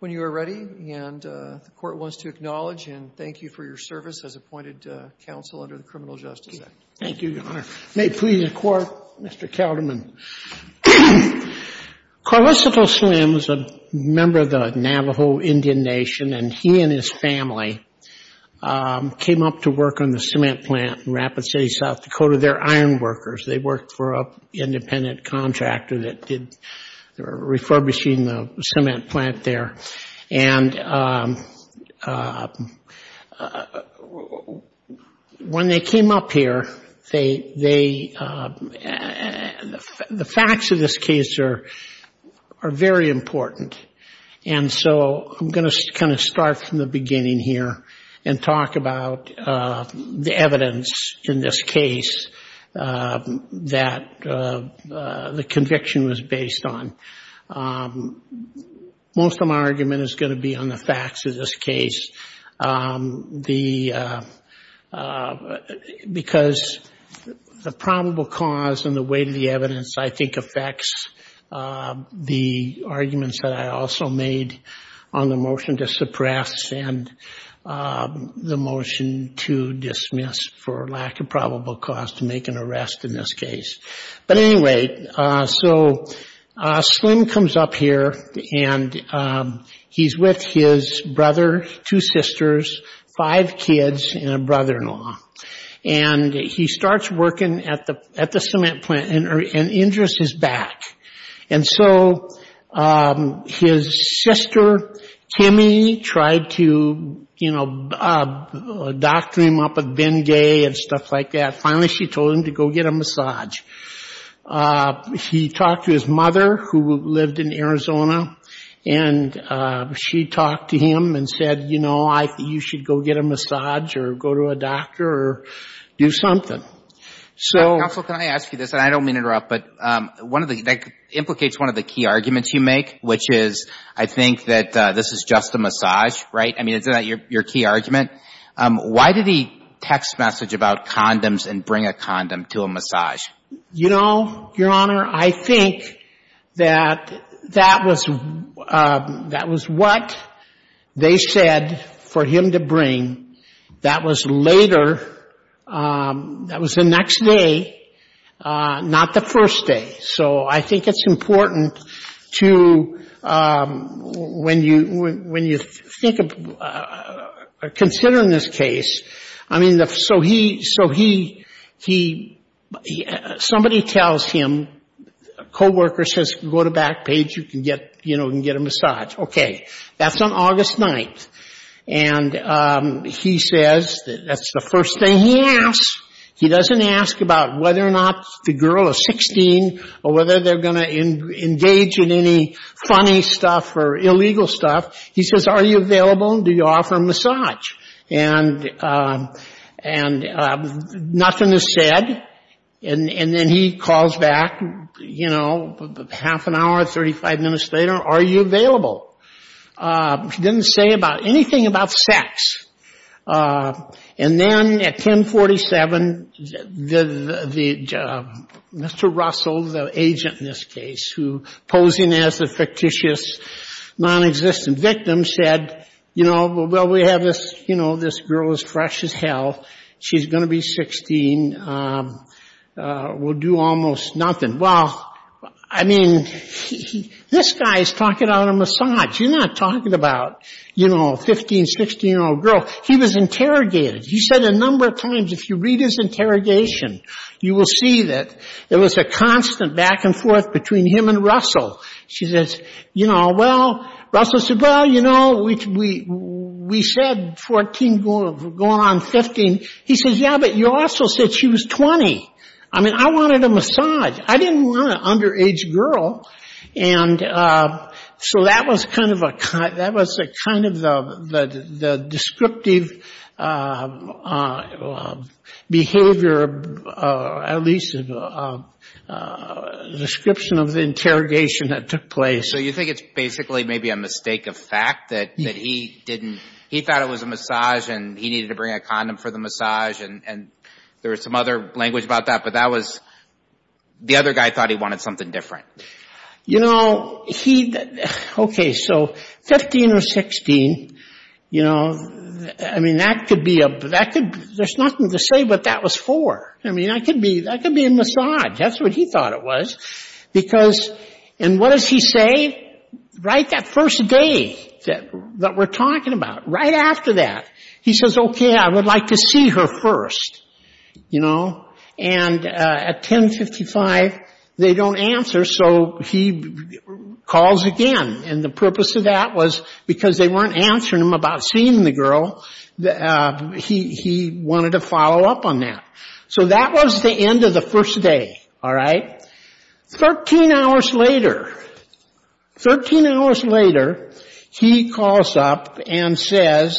when you are ready, and the Court wants to acknowledge and thank you for your service as appointed counsel under the Criminal Justice Act. Thank you, Your Honor. May it please the Court, Mr. Calderman. Carlocito Slim is a member of the Navajo Indian Nation, and he and his family came up to work on the cement plant in Rapid City, South Dakota. They're iron workers. They worked for an independent contractor that did, they were refurbishing the cement plant there. And when they came up here, they, the facts of this case are very important. And so I'm going to kind of start from the beginning here and talk about the evidence in this case that the conviction was based on. Most of my argument is going to be on the facts of this case. The, because the probable cause and the weight of the evidence, I think, affects the arguments that I also made on the motion to suppress and the motion to dismiss for lack of probable cause to make an arrest in this case. But anyway, so Slim comes up here, and he's with his brother, two sisters, five kids, and a brother-in-law. And he starts working at the, at the cement plant and injures his back. And so his sister, Kimmy, tried to, you know, doctor him up with Bengay and stuff like that. Finally, she told him to go get a massage. He talked to his mother, who lived in Arizona, and she talked to him and said, you know, you should go get a massage or go to a doctor or do something. So ‑‑ Counsel, can I ask you this? And I don't mean to interrupt, but one of the, that implicates one of the key arguments you make, which is I think that this is just a case where you can't bring a condom to a massage. You know, Your Honor, I think that that was what they said for him to bring. That was later, that was the next day, not the first day. So I think it's important to, when you think of, consider in this case, I mean, so he, so he, you know, has a gun. He can't bring a condom to a massage. He, somebody tells him, a co-worker says, go to Backpage, you can get, you know, you can get a massage. Okay. That's on August 9th. And he says, that's the first thing he asks. He doesn't ask about whether or not the girl is 16 or whether they're going to engage in any funny stuff or illegal stuff. He says, are you available? Do you offer a massage? And, and nothing is said. And then he calls back, you know, half an hour, 35 minutes later, are you available? He didn't say about anything about sex. And then at 1047, the, Mr. Russell, the agent in this case, who, posing as a fictitious, non-existent victim, said, you know, we have this, you know, this girl is fresh as hell. She's going to be 16. We'll do almost nothing. Well, I mean, this guy is talking about a massage. You're not talking about, you know, a 15, 16-year-old girl. He was interrogated. He said a number of times, if you read his interrogation, you will see that there was a constant back and forth between him and Russell. She said 14, going on 15. He says, yeah, but you also said she was 20. I mean, I wanted a massage. I didn't want an underage girl. And so that was kind of a, that was a kind of the, the descriptive behavior, at least a description of the interrogation that took place. And he thought it was a massage and he needed to bring a condom for the massage. And there was some other language about that. But that was, the other guy thought he wanted something different. You know, he, okay, so 15 or 16, you know, I mean, that could be a, that could, there's nothing to say what that was for. I mean, that could be, that could be a massage. That's what he thought it was. Because, and what does he say? Right that first day that we're talking about, right after that, he says, okay, I would like to see her first, you know. And at 1055, they don't answer, so he calls again. And the purpose of that was because they weren't answering him about seeing the girl, he wanted to follow up on that. So that was the end of the first day, all right. Thirteen hours later, thirteen hours later, he calls up and says,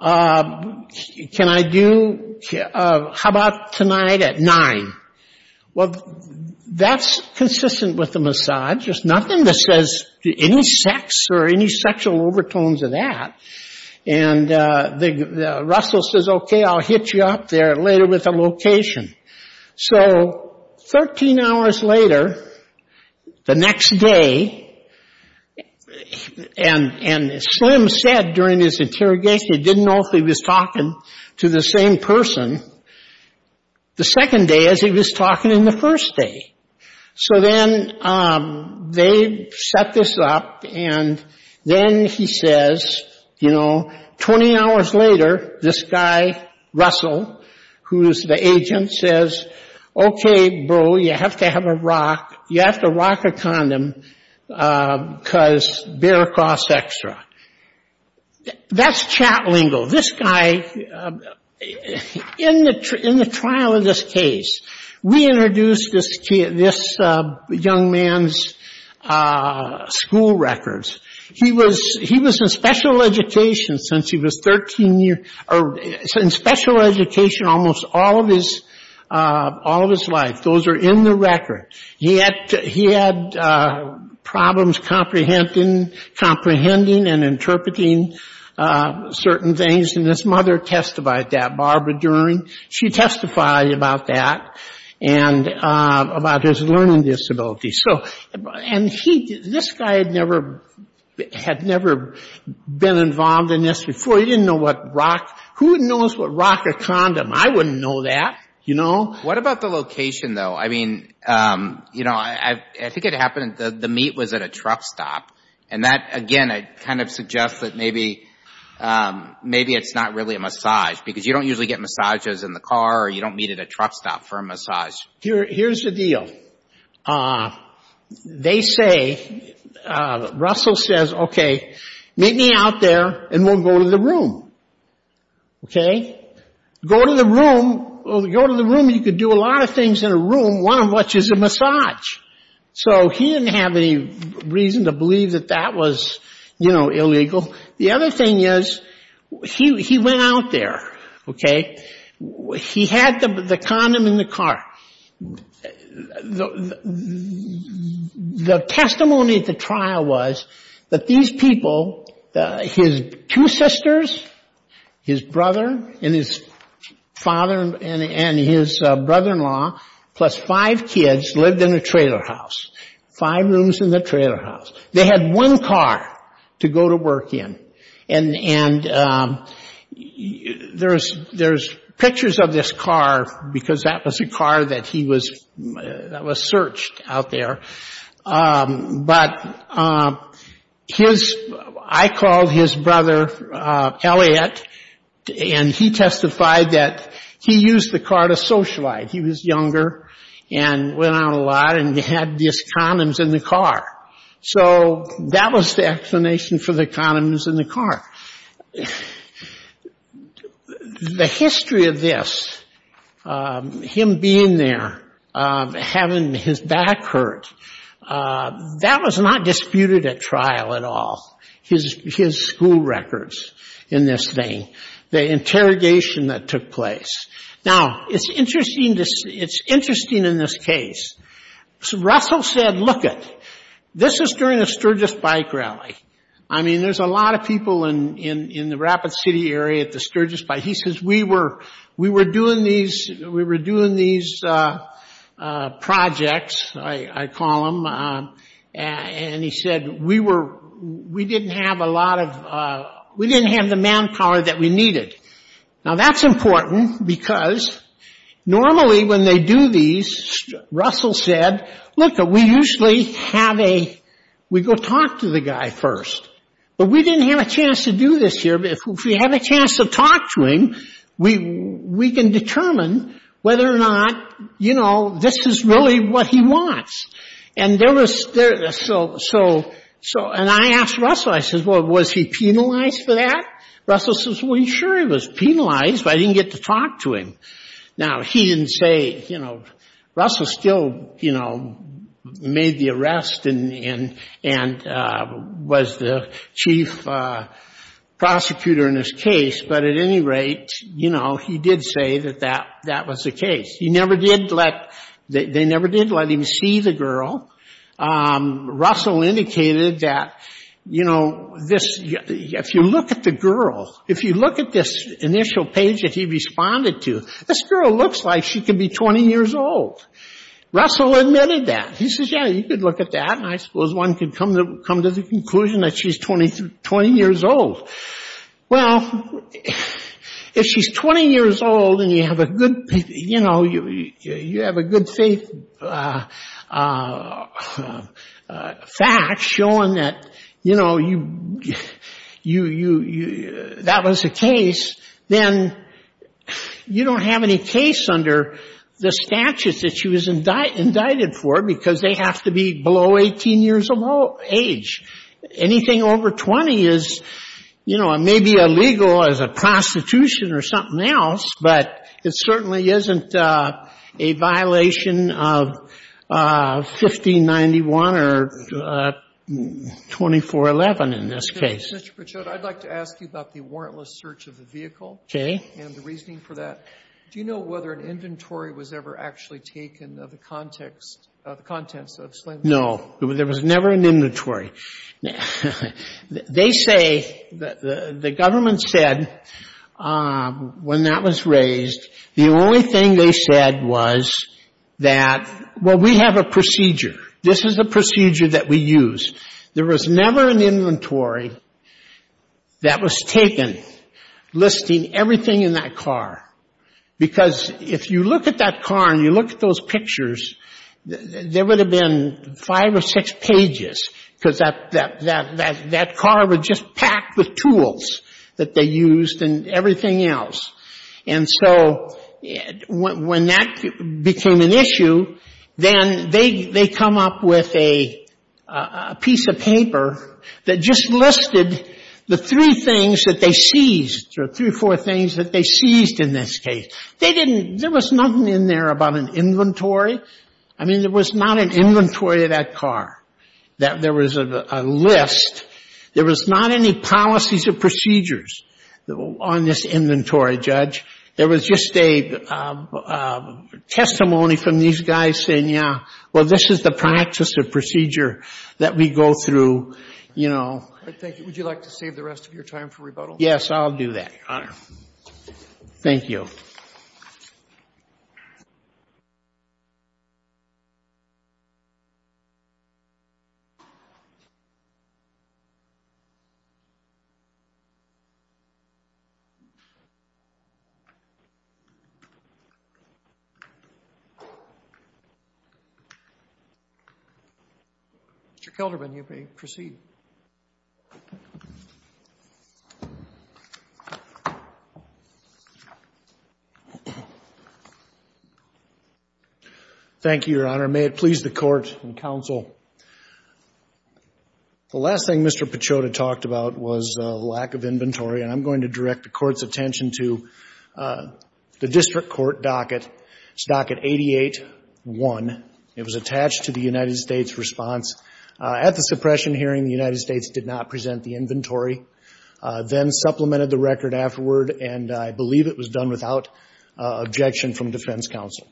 can I do, how about tonight at nine? Well, that's consistent with the massage. There's nothing that says any sex or any sexual overtones of that. And Russell says, okay, I'll get you up there later with a location. So, thirteen hours later, the next day, and Slim said during his interrogation, he didn't know if he was talking to the same person the second day as he was talking in the first day. So then they set this up, and then he says, you know, twenty hours later, this guy runs up to him and says, you know, I'd like to see you today. Russell, who is the agent, says, okay, bro, you have to have a rock, you have to rock a condom, because beer costs extra. That's chat lingo. This guy, in the trial of this case, we introduced this young man's school records. He was in special education since he was 13 years, or in special education almost all of his life. Those are in the record. He had problems comprehending and interpreting certain things, and his mother testified that, Barbara Dern. She testified about that, and about his learning disabilities. So, and he, this guy had never, had never been in a relationship with a woman. He had never been involved in this before. He didn't know what rock, who knows what rock a condom? I wouldn't know that, you know. What about the location, though? I mean, you know, I think it happened, the meet was at a truck stop, and that, again, I kind of suggest that maybe, maybe it's not really a massage, because you don't usually get massages in the car, or you don't meet at a truck stop for a massage. Here's the deal. They say, Russell says, okay, meet me out there, and we'll go to the room. Okay? Go to the room, go to the room, you could do a lot of things in a room, one of which is a massage. So he didn't have any reason to believe that that was, you know, illegal. The other thing is, he went out there, okay? He had the condom in the car. The testimony at the trial was that these people, his two sisters, his brother, and his father, and his brother-in-law, plus five kids lived in a trailer house. They had one car to go to work in, and there's pictures of this car, because that was a car that he was, that was searched out there, but his, I called his brother, Elliot, and he testified that he used the car to socialize. He was in the car. So that was the explanation for the condoms in the car. The history of this, him being there, having his back hurt, that was not disputed at trial at all, his school records in this thing, the interrogation that took place. Now, it's interesting in this case. Russell said, lookit, this is during a Sturgis bike rally. I mean, there's a lot of people in the Rapid City area at the Sturgis bike. He says, we were doing these projects, I call them, and he said, we didn't have a lot of, we didn't have the manpower that we needed. Now, that's important, because normally when they do these, Russell said, lookit, we usually have a, we go talk to the guy first, but we didn't have a chance to do this here, but if we have a chance to talk to him, we can determine whether or not, you know, this is really what he wants. And there was, so, and I asked Russell, I said, well, was he penalized for that? Russell says, well, sure, he was penalized, but I didn't get to talk to him. Now, he didn't say, you know, Russell still, you know, made the arrest and was the chief prosecutor in his case, but at any rate, you know, he did say that that was the case. He never did let, they never did let him see the girl. Russell indicated that, you know, this, if you look at the girl, if you look at this initial page that he responded to, this girl looks like she could be 20 years old. Russell admitted that. He says, yeah, you could look at that, and I suppose one could come to the conclusion that she's 20 years old. Well, if she's 20 years old and you have a good, you know, you have a good faith fact showing that, you know, you, that was the case, then you don't have any case under the statutes that she was indicted for because they have to be below 18 years old. So, you know, it's a little more age. Anything over 20 is, you know, it may be illegal as a prostitution or something else, but it certainly isn't a violation of 1591 or 2411 in this case. O'Connor. Mr. Pichot, I'd like to ask you about the warrantless search of the vehicle. Okay. And the reasoning for that. Do you know whether an inventory was ever actually taken of the context, of the contents of slavery? No. There was never an inventory. They say, the government said, when that was raised, the only thing they said was that, well, we have a procedure. This is the procedure that we use. There was never an inventory that was taken, listing everything in that car. Because if you look at that car and you look at those pictures, there would have been five or six pages because that car was just packed with tools that they used and everything else. And so when that became an issue, then they come up with a piece of paper that just listed the three things that they seized or three or four things that they seized in this case. There was nothing in there about an inventory. I mean, there was not an inventory of that car. There was a list. There was not any policies or procedures on this inventory, Judge. There was just a testimony from these guys saying, yeah, well, this is the practice or procedure that we go through, you know. Thank you. Would you like to save the rest of your time for rebuttal? Yes, I'll do that, Your Honor. Thank you. Thank you. Mr. Kelderman, you may proceed. Thank you, Your Honor. May it please the Court and Counsel. The last thing Mr. Pachoda talked about was lack of inventory, and I'm going to direct the Court's attention to the District Court docket. It's docket 88-1. It was attached to the United States response. At the suppression hearing, the United States did not present the inventory, then supplemented the record afterward, and I believe it was done without objection from defense counsel.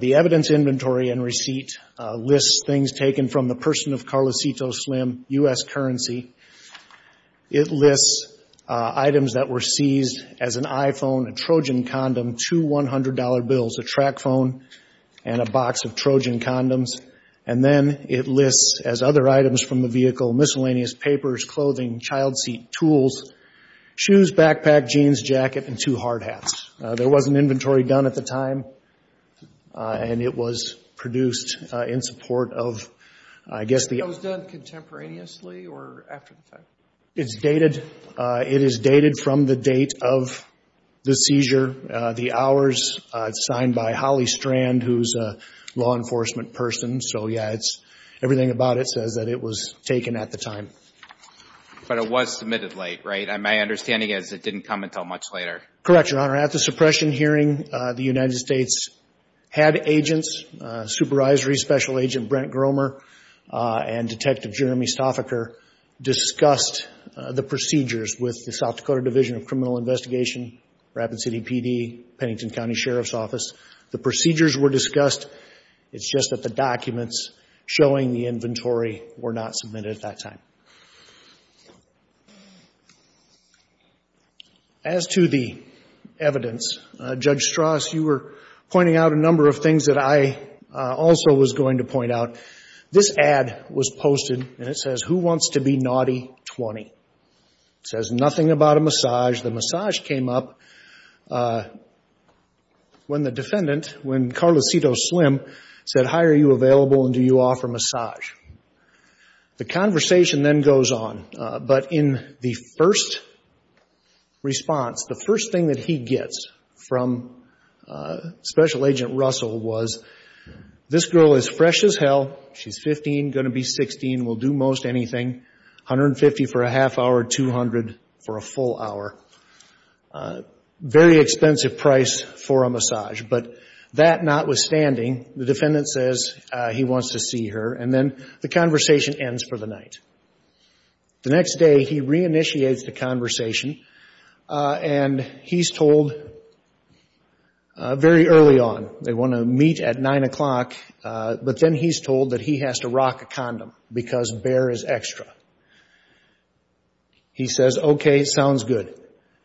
The evidence inventory and receipt lists things taken from the person of Carlosito Slim, U.S. currency. It lists items that were seized as an iPhone, a Trojan condom, two $100 bills, a track phone, and a box of Trojan condoms. And then it lists, as other items from the vehicle, miscellaneous papers, clothing, child seat tools, shoes, backpack, jeans, jacket, and two hard hats. There wasn't inventory done at the time, and it was produced in support of, I guess, the... It was done contemporaneously or after the time? It's dated. It is dated from the date of the seizure. The hours, it's signed by Holly Strand, who's a law enforcement person, so, yeah, everything about it says that it was taken at the time. It's just that it didn't come until much later. Correct, Your Honor. At the suppression hearing, the United States had agents, supervisory special agent Brent Gromer, and Detective Jeremy Stoffaker discussed the procedures with the South Dakota Division of Criminal Investigation, Rapid City PD, Pennington County Sheriff's Office. The procedures were discussed. It's just that the documents showing the inventory were not submitted at that time. As to the evidence, Judge Strauss, you were pointing out a number of things that I also was going to point out. This ad was posted, and it says, Who Wants to be Naughty 20? It says nothing about a massage. The massage came up when the defendant, when Carlosito Slim, said, How are you available, and do you offer massage? The conversation then goes on. But in the first response, the first thing that he gets from Special Agent Russell was, This girl is fresh as hell. She's 15, going to be 16, will do most anything. $150 for a half hour, $200 for a full hour. Very expensive price for a massage. But that notwithstanding, the defendant says he wants to see her, and then the conversation ends for the night. The next day, he re-initiates the conversation, and he's told very early on, they want to meet at 9 o'clock, but then he's told that he has to rock a condom, because bare is extra. He says, Okay, sounds good.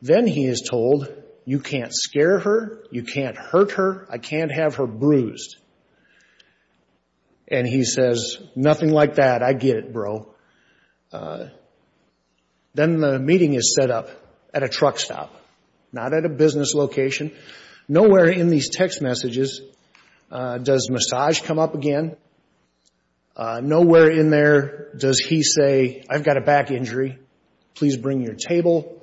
Then he is told, You can't scare her. You can't hurt her. I can't have her bruised. And he says, Nothing like that. I get it, bro. The next day, he says, Okay, sounds good. Then the meeting is set up at a truck stop, not at a business location. Nowhere in these text messages does massage come up again. Nowhere in there does he say, I've got a back injury. Please bring your table.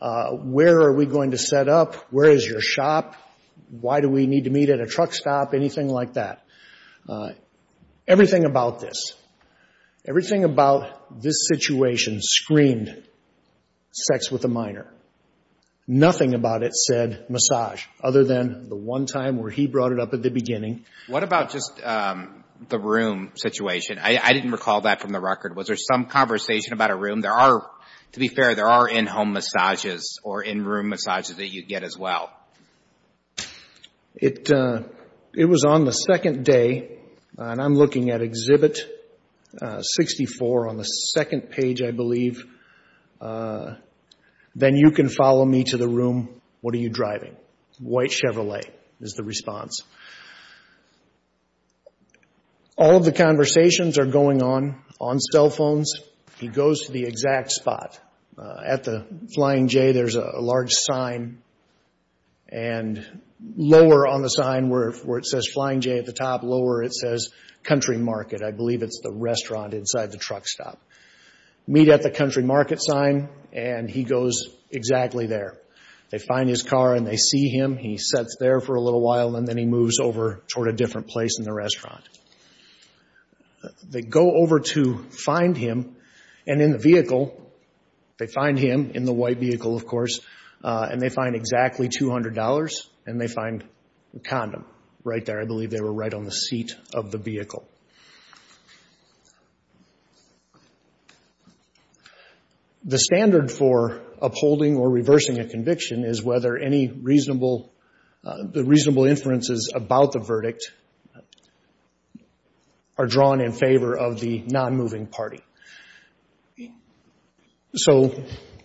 Where are we going to set up? Where is your shop? Why do we need to meet at a truck stop? Anything like that. Everything about this. Everything about this situation screamed sex with a minor. Nothing about it said massage, other than the one time where he brought it up at the beginning. I didn't recall that from the record. Was there some conversation about a room? To be fair, there are in-home massages or in-room massages that you get as well. I'm looking at Exhibit 64 on the second page, I believe. Then you can follow me to the room. What are you driving? White Chevrolet is the response. All of the conversations are going on, on cell phones. He goes to the exact spot. At the Flying J, there's a large sign. And lower on the sign where it says Flying J at the top, lower it says Country Market. I believe it's the restaurant inside the truck stop. Meet at the Country Market sign, and he goes exactly there. They find his car and they see him. He sets there for a little while, and then he moves over toward a different place in the restaurant. They go over to find him. And in the vehicle, they find him, in the white vehicle, of course. And they find exactly $200. And they find the condom right there. I believe they were right on the seat of the vehicle. The standard for upholding or reversing a conviction is whether any reasonable, the reasonable inferences about the verdict are drawn in favor of the non-moving party. So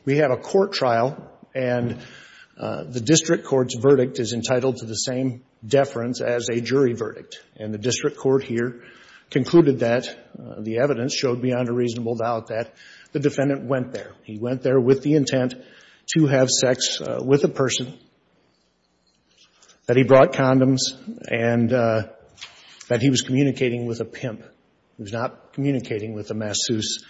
we have a court trial, and the district court's verdict is entitled to the same deference as a jury verdict. And the district court here concluded that the evidence showed beyond a reasonable doubt that the defendant went there. He went there with the intent to have sex with a person, that he brought condoms, and that he was communicating with a pimp. He was not communicating with a masseuse.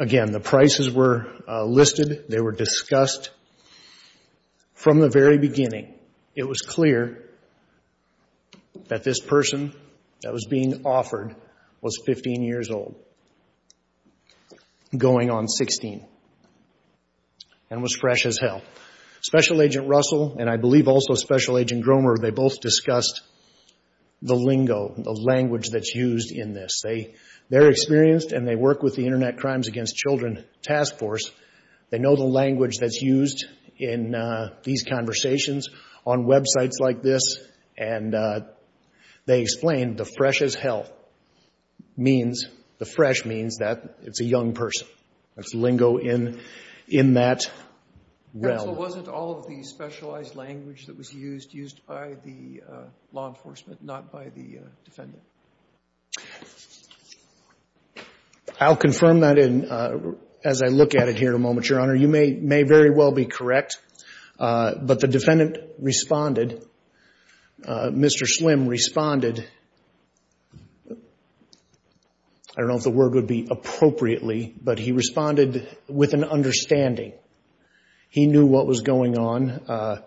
Again, the prices were listed. They were discussed. From the very beginning, it was clear that this person that was being offered was 15 years old, going on 16, and was fresh as hell. Special Agent Russell, and I believe also Special Agent Gromer, they both discussed the lingo, the language that's used in this. They're experienced, and they work with the Internet Crimes Against Children Task Force. They know the language that's used in these conversations on websites like this, and they explained the fresh as hell means, the fresh means that it's a young person. It's lingo in that realm. Sotomayor was it all of the specialized language that was used, used by the law enforcement, not by the defendant? I'll confirm that as I look at it here in a moment, Your Honor. You may very well be correct, but the defendant responded. Mr. Slim responded, I don't know if the word would be appropriately, but he responded with an understanding. He knew what was going on.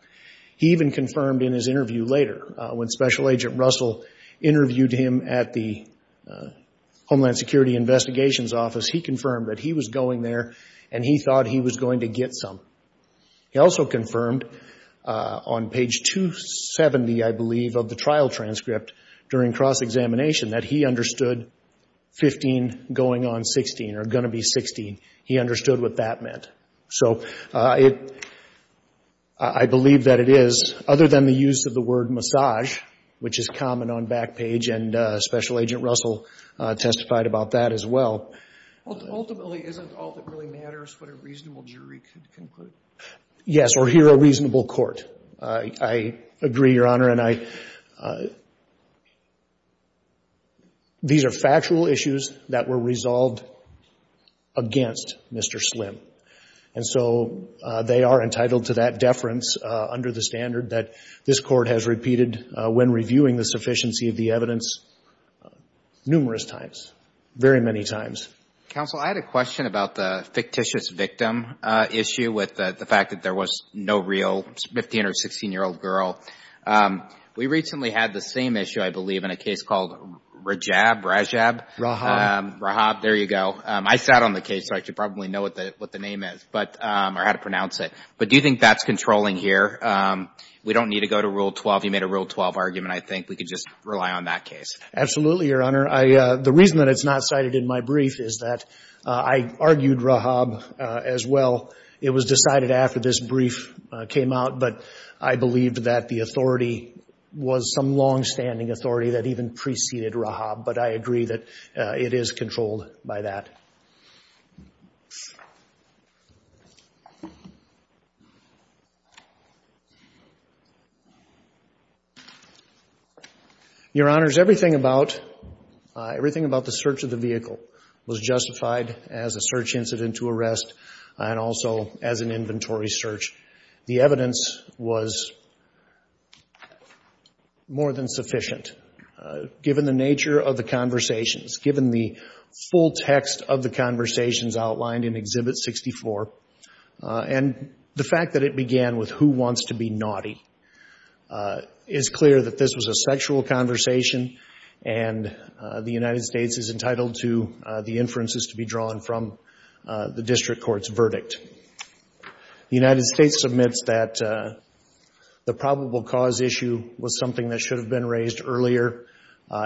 He even confirmed in his interview later, when Special Agent Russell interviewed him at the Homeland Security Investigations Office, he confirmed that he was going there, and he thought he was going to get some. He also confirmed on page 270, I believe, of the trial transcript during cross-examination, that he understood 15 going on 16, or going to be 16. He understood what that meant. I believe that it is, other than the use of the word massage, which is common on Backpage, and Special Agent Russell, testified about that as well. Ultimately, isn't all that really matters what a reasonable jury can conclude? Yes, or hear a reasonable court. I agree, Your Honor. These are factual issues that were resolved against Mr. Slim, and so they are entitled to that deference under the standard that this Court has repeated when reviewing the sufficiency of the evidence numerous times, very many times. Counsel, I had a question about the fictitious victim issue, with the fact that there was no real 15 or 16-year-old girl. We recently had the same issue, I believe, in a case called Rajab, Rajab? Rahab. Rahab, there you go. I sat on the case, so I should probably know what the name is, or how to pronounce it. But do you think that's controlling here? We don't need to go to Rule 12. You made a Rule 12 argument. I think we can just rely on that case. Absolutely, Your Honor. The reason that it's not cited in my brief is that I argued Rahab as well. It was decided after this brief came out, but I believe that the authority was some longstanding authority that even preceded Rahab. But I agree that it is controlled by that. Your Honor, everything about the search of the vehicle was justified as a search incident to arrest, and also as an inventory search. The evidence was more than sufficient, given the nature of the conversations, given the full text of the conversations outlined in Exhibit 64. And the fact that it began with, who wants to be naughty? It's clear that this was a sexual conversation, and the United States is entitled to the inferences to be drawn from the district court's verdict. The United States admits that the probable cause issue was something that should have been raised earlier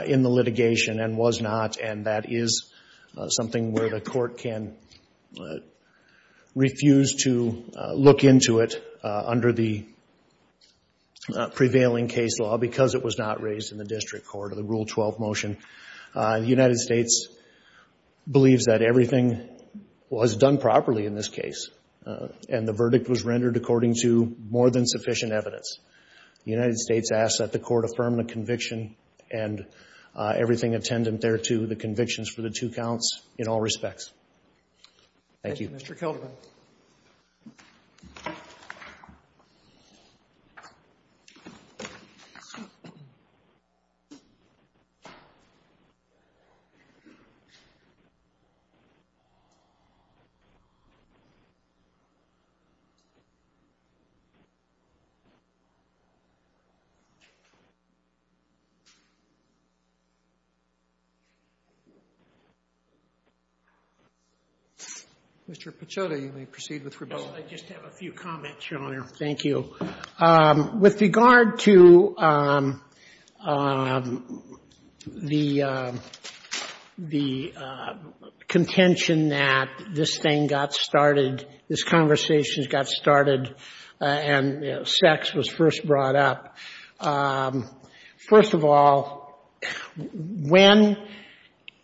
in the litigation, and was not. And that is something where the court can refuse to look into it under the prevailing case law, because it was not raised in the district court, or the Rule 12 motion. The United States believes that everything was done properly in this case, and the verdict was rendered according to more than sufficient evidence. The United States asks that the court affirm the conviction and everything attendant thereto. And I ask that the court approve the convictions for the two counts in all respects. Thank you. Mr. Pecotta, you may proceed with rebuttal. I just have a few comments, Your Honor. Thank you. With regard to the contention that this thing got started, this conversation got started, and sex was first brought up, first of all, when the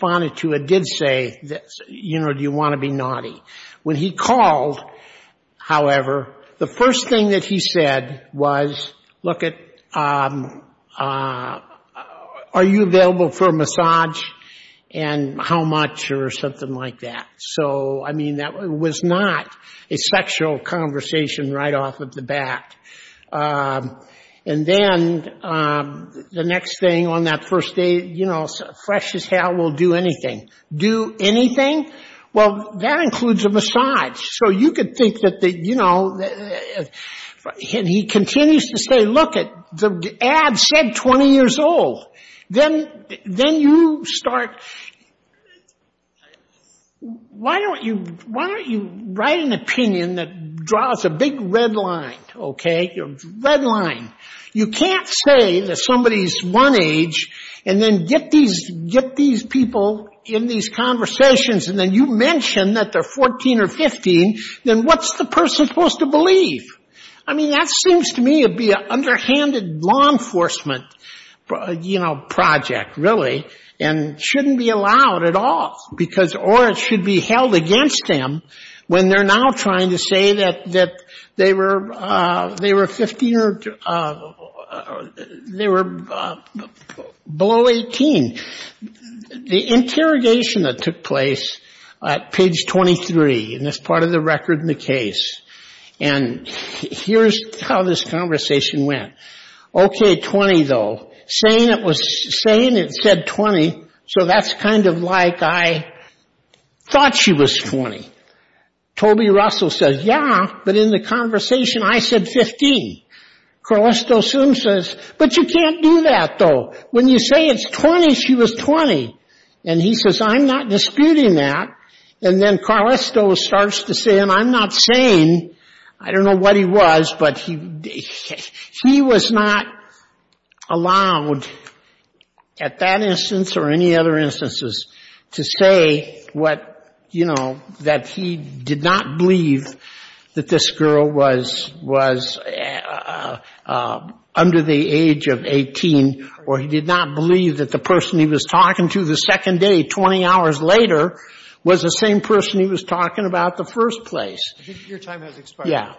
court said, you know, do you want to be naughty? When he called, however, the first thing that he said was, look at, are you available for a massage, and how much, or something like that. So, I mean, that was not a sexual conversation right off of the bat. And then the next thing on that first day, you know, fresh as hell, we'll do anything. Do anything? Well, that includes a massage, so you could think that, you know, and he continues to say, look, the ad said 20 years old. Then you start, why don't you write an opinion that draws a big red line, okay? Red line. You can't say that somebody's one age, and then get these people in these conversations, and then you mention that they're 14 or 15, then what's the person supposed to believe? I mean, that seems to me to be an underhanded law enforcement, you know, project, really, and shouldn't be allowed at all, because, or it should be held against them, when they're now trying to say that they were, you know, 14 or 15. They were 15 or, they were below 18. The interrogation that took place at page 23, and that's part of the record in the case, and here's how this conversation went. Okay, 20, though, saying it said 20, so that's kind of like I thought she was 20. Toby Russell says, yeah, but in the conversation, I said 15. Carlisto soon says, but you can't do that, though. When you say it's 20, she was 20, and he says, I'm not disputing that, and then Carlisto starts to say, and I'm not saying, I don't know what he was, but he was not allowed, at that instance or any other instances, to say what, you know, that person said. He did not believe that this girl was under the age of 18, or he did not believe that the person he was talking to the second day, 20 hours later, was the same person he was talking about in the first place. Your time has expired.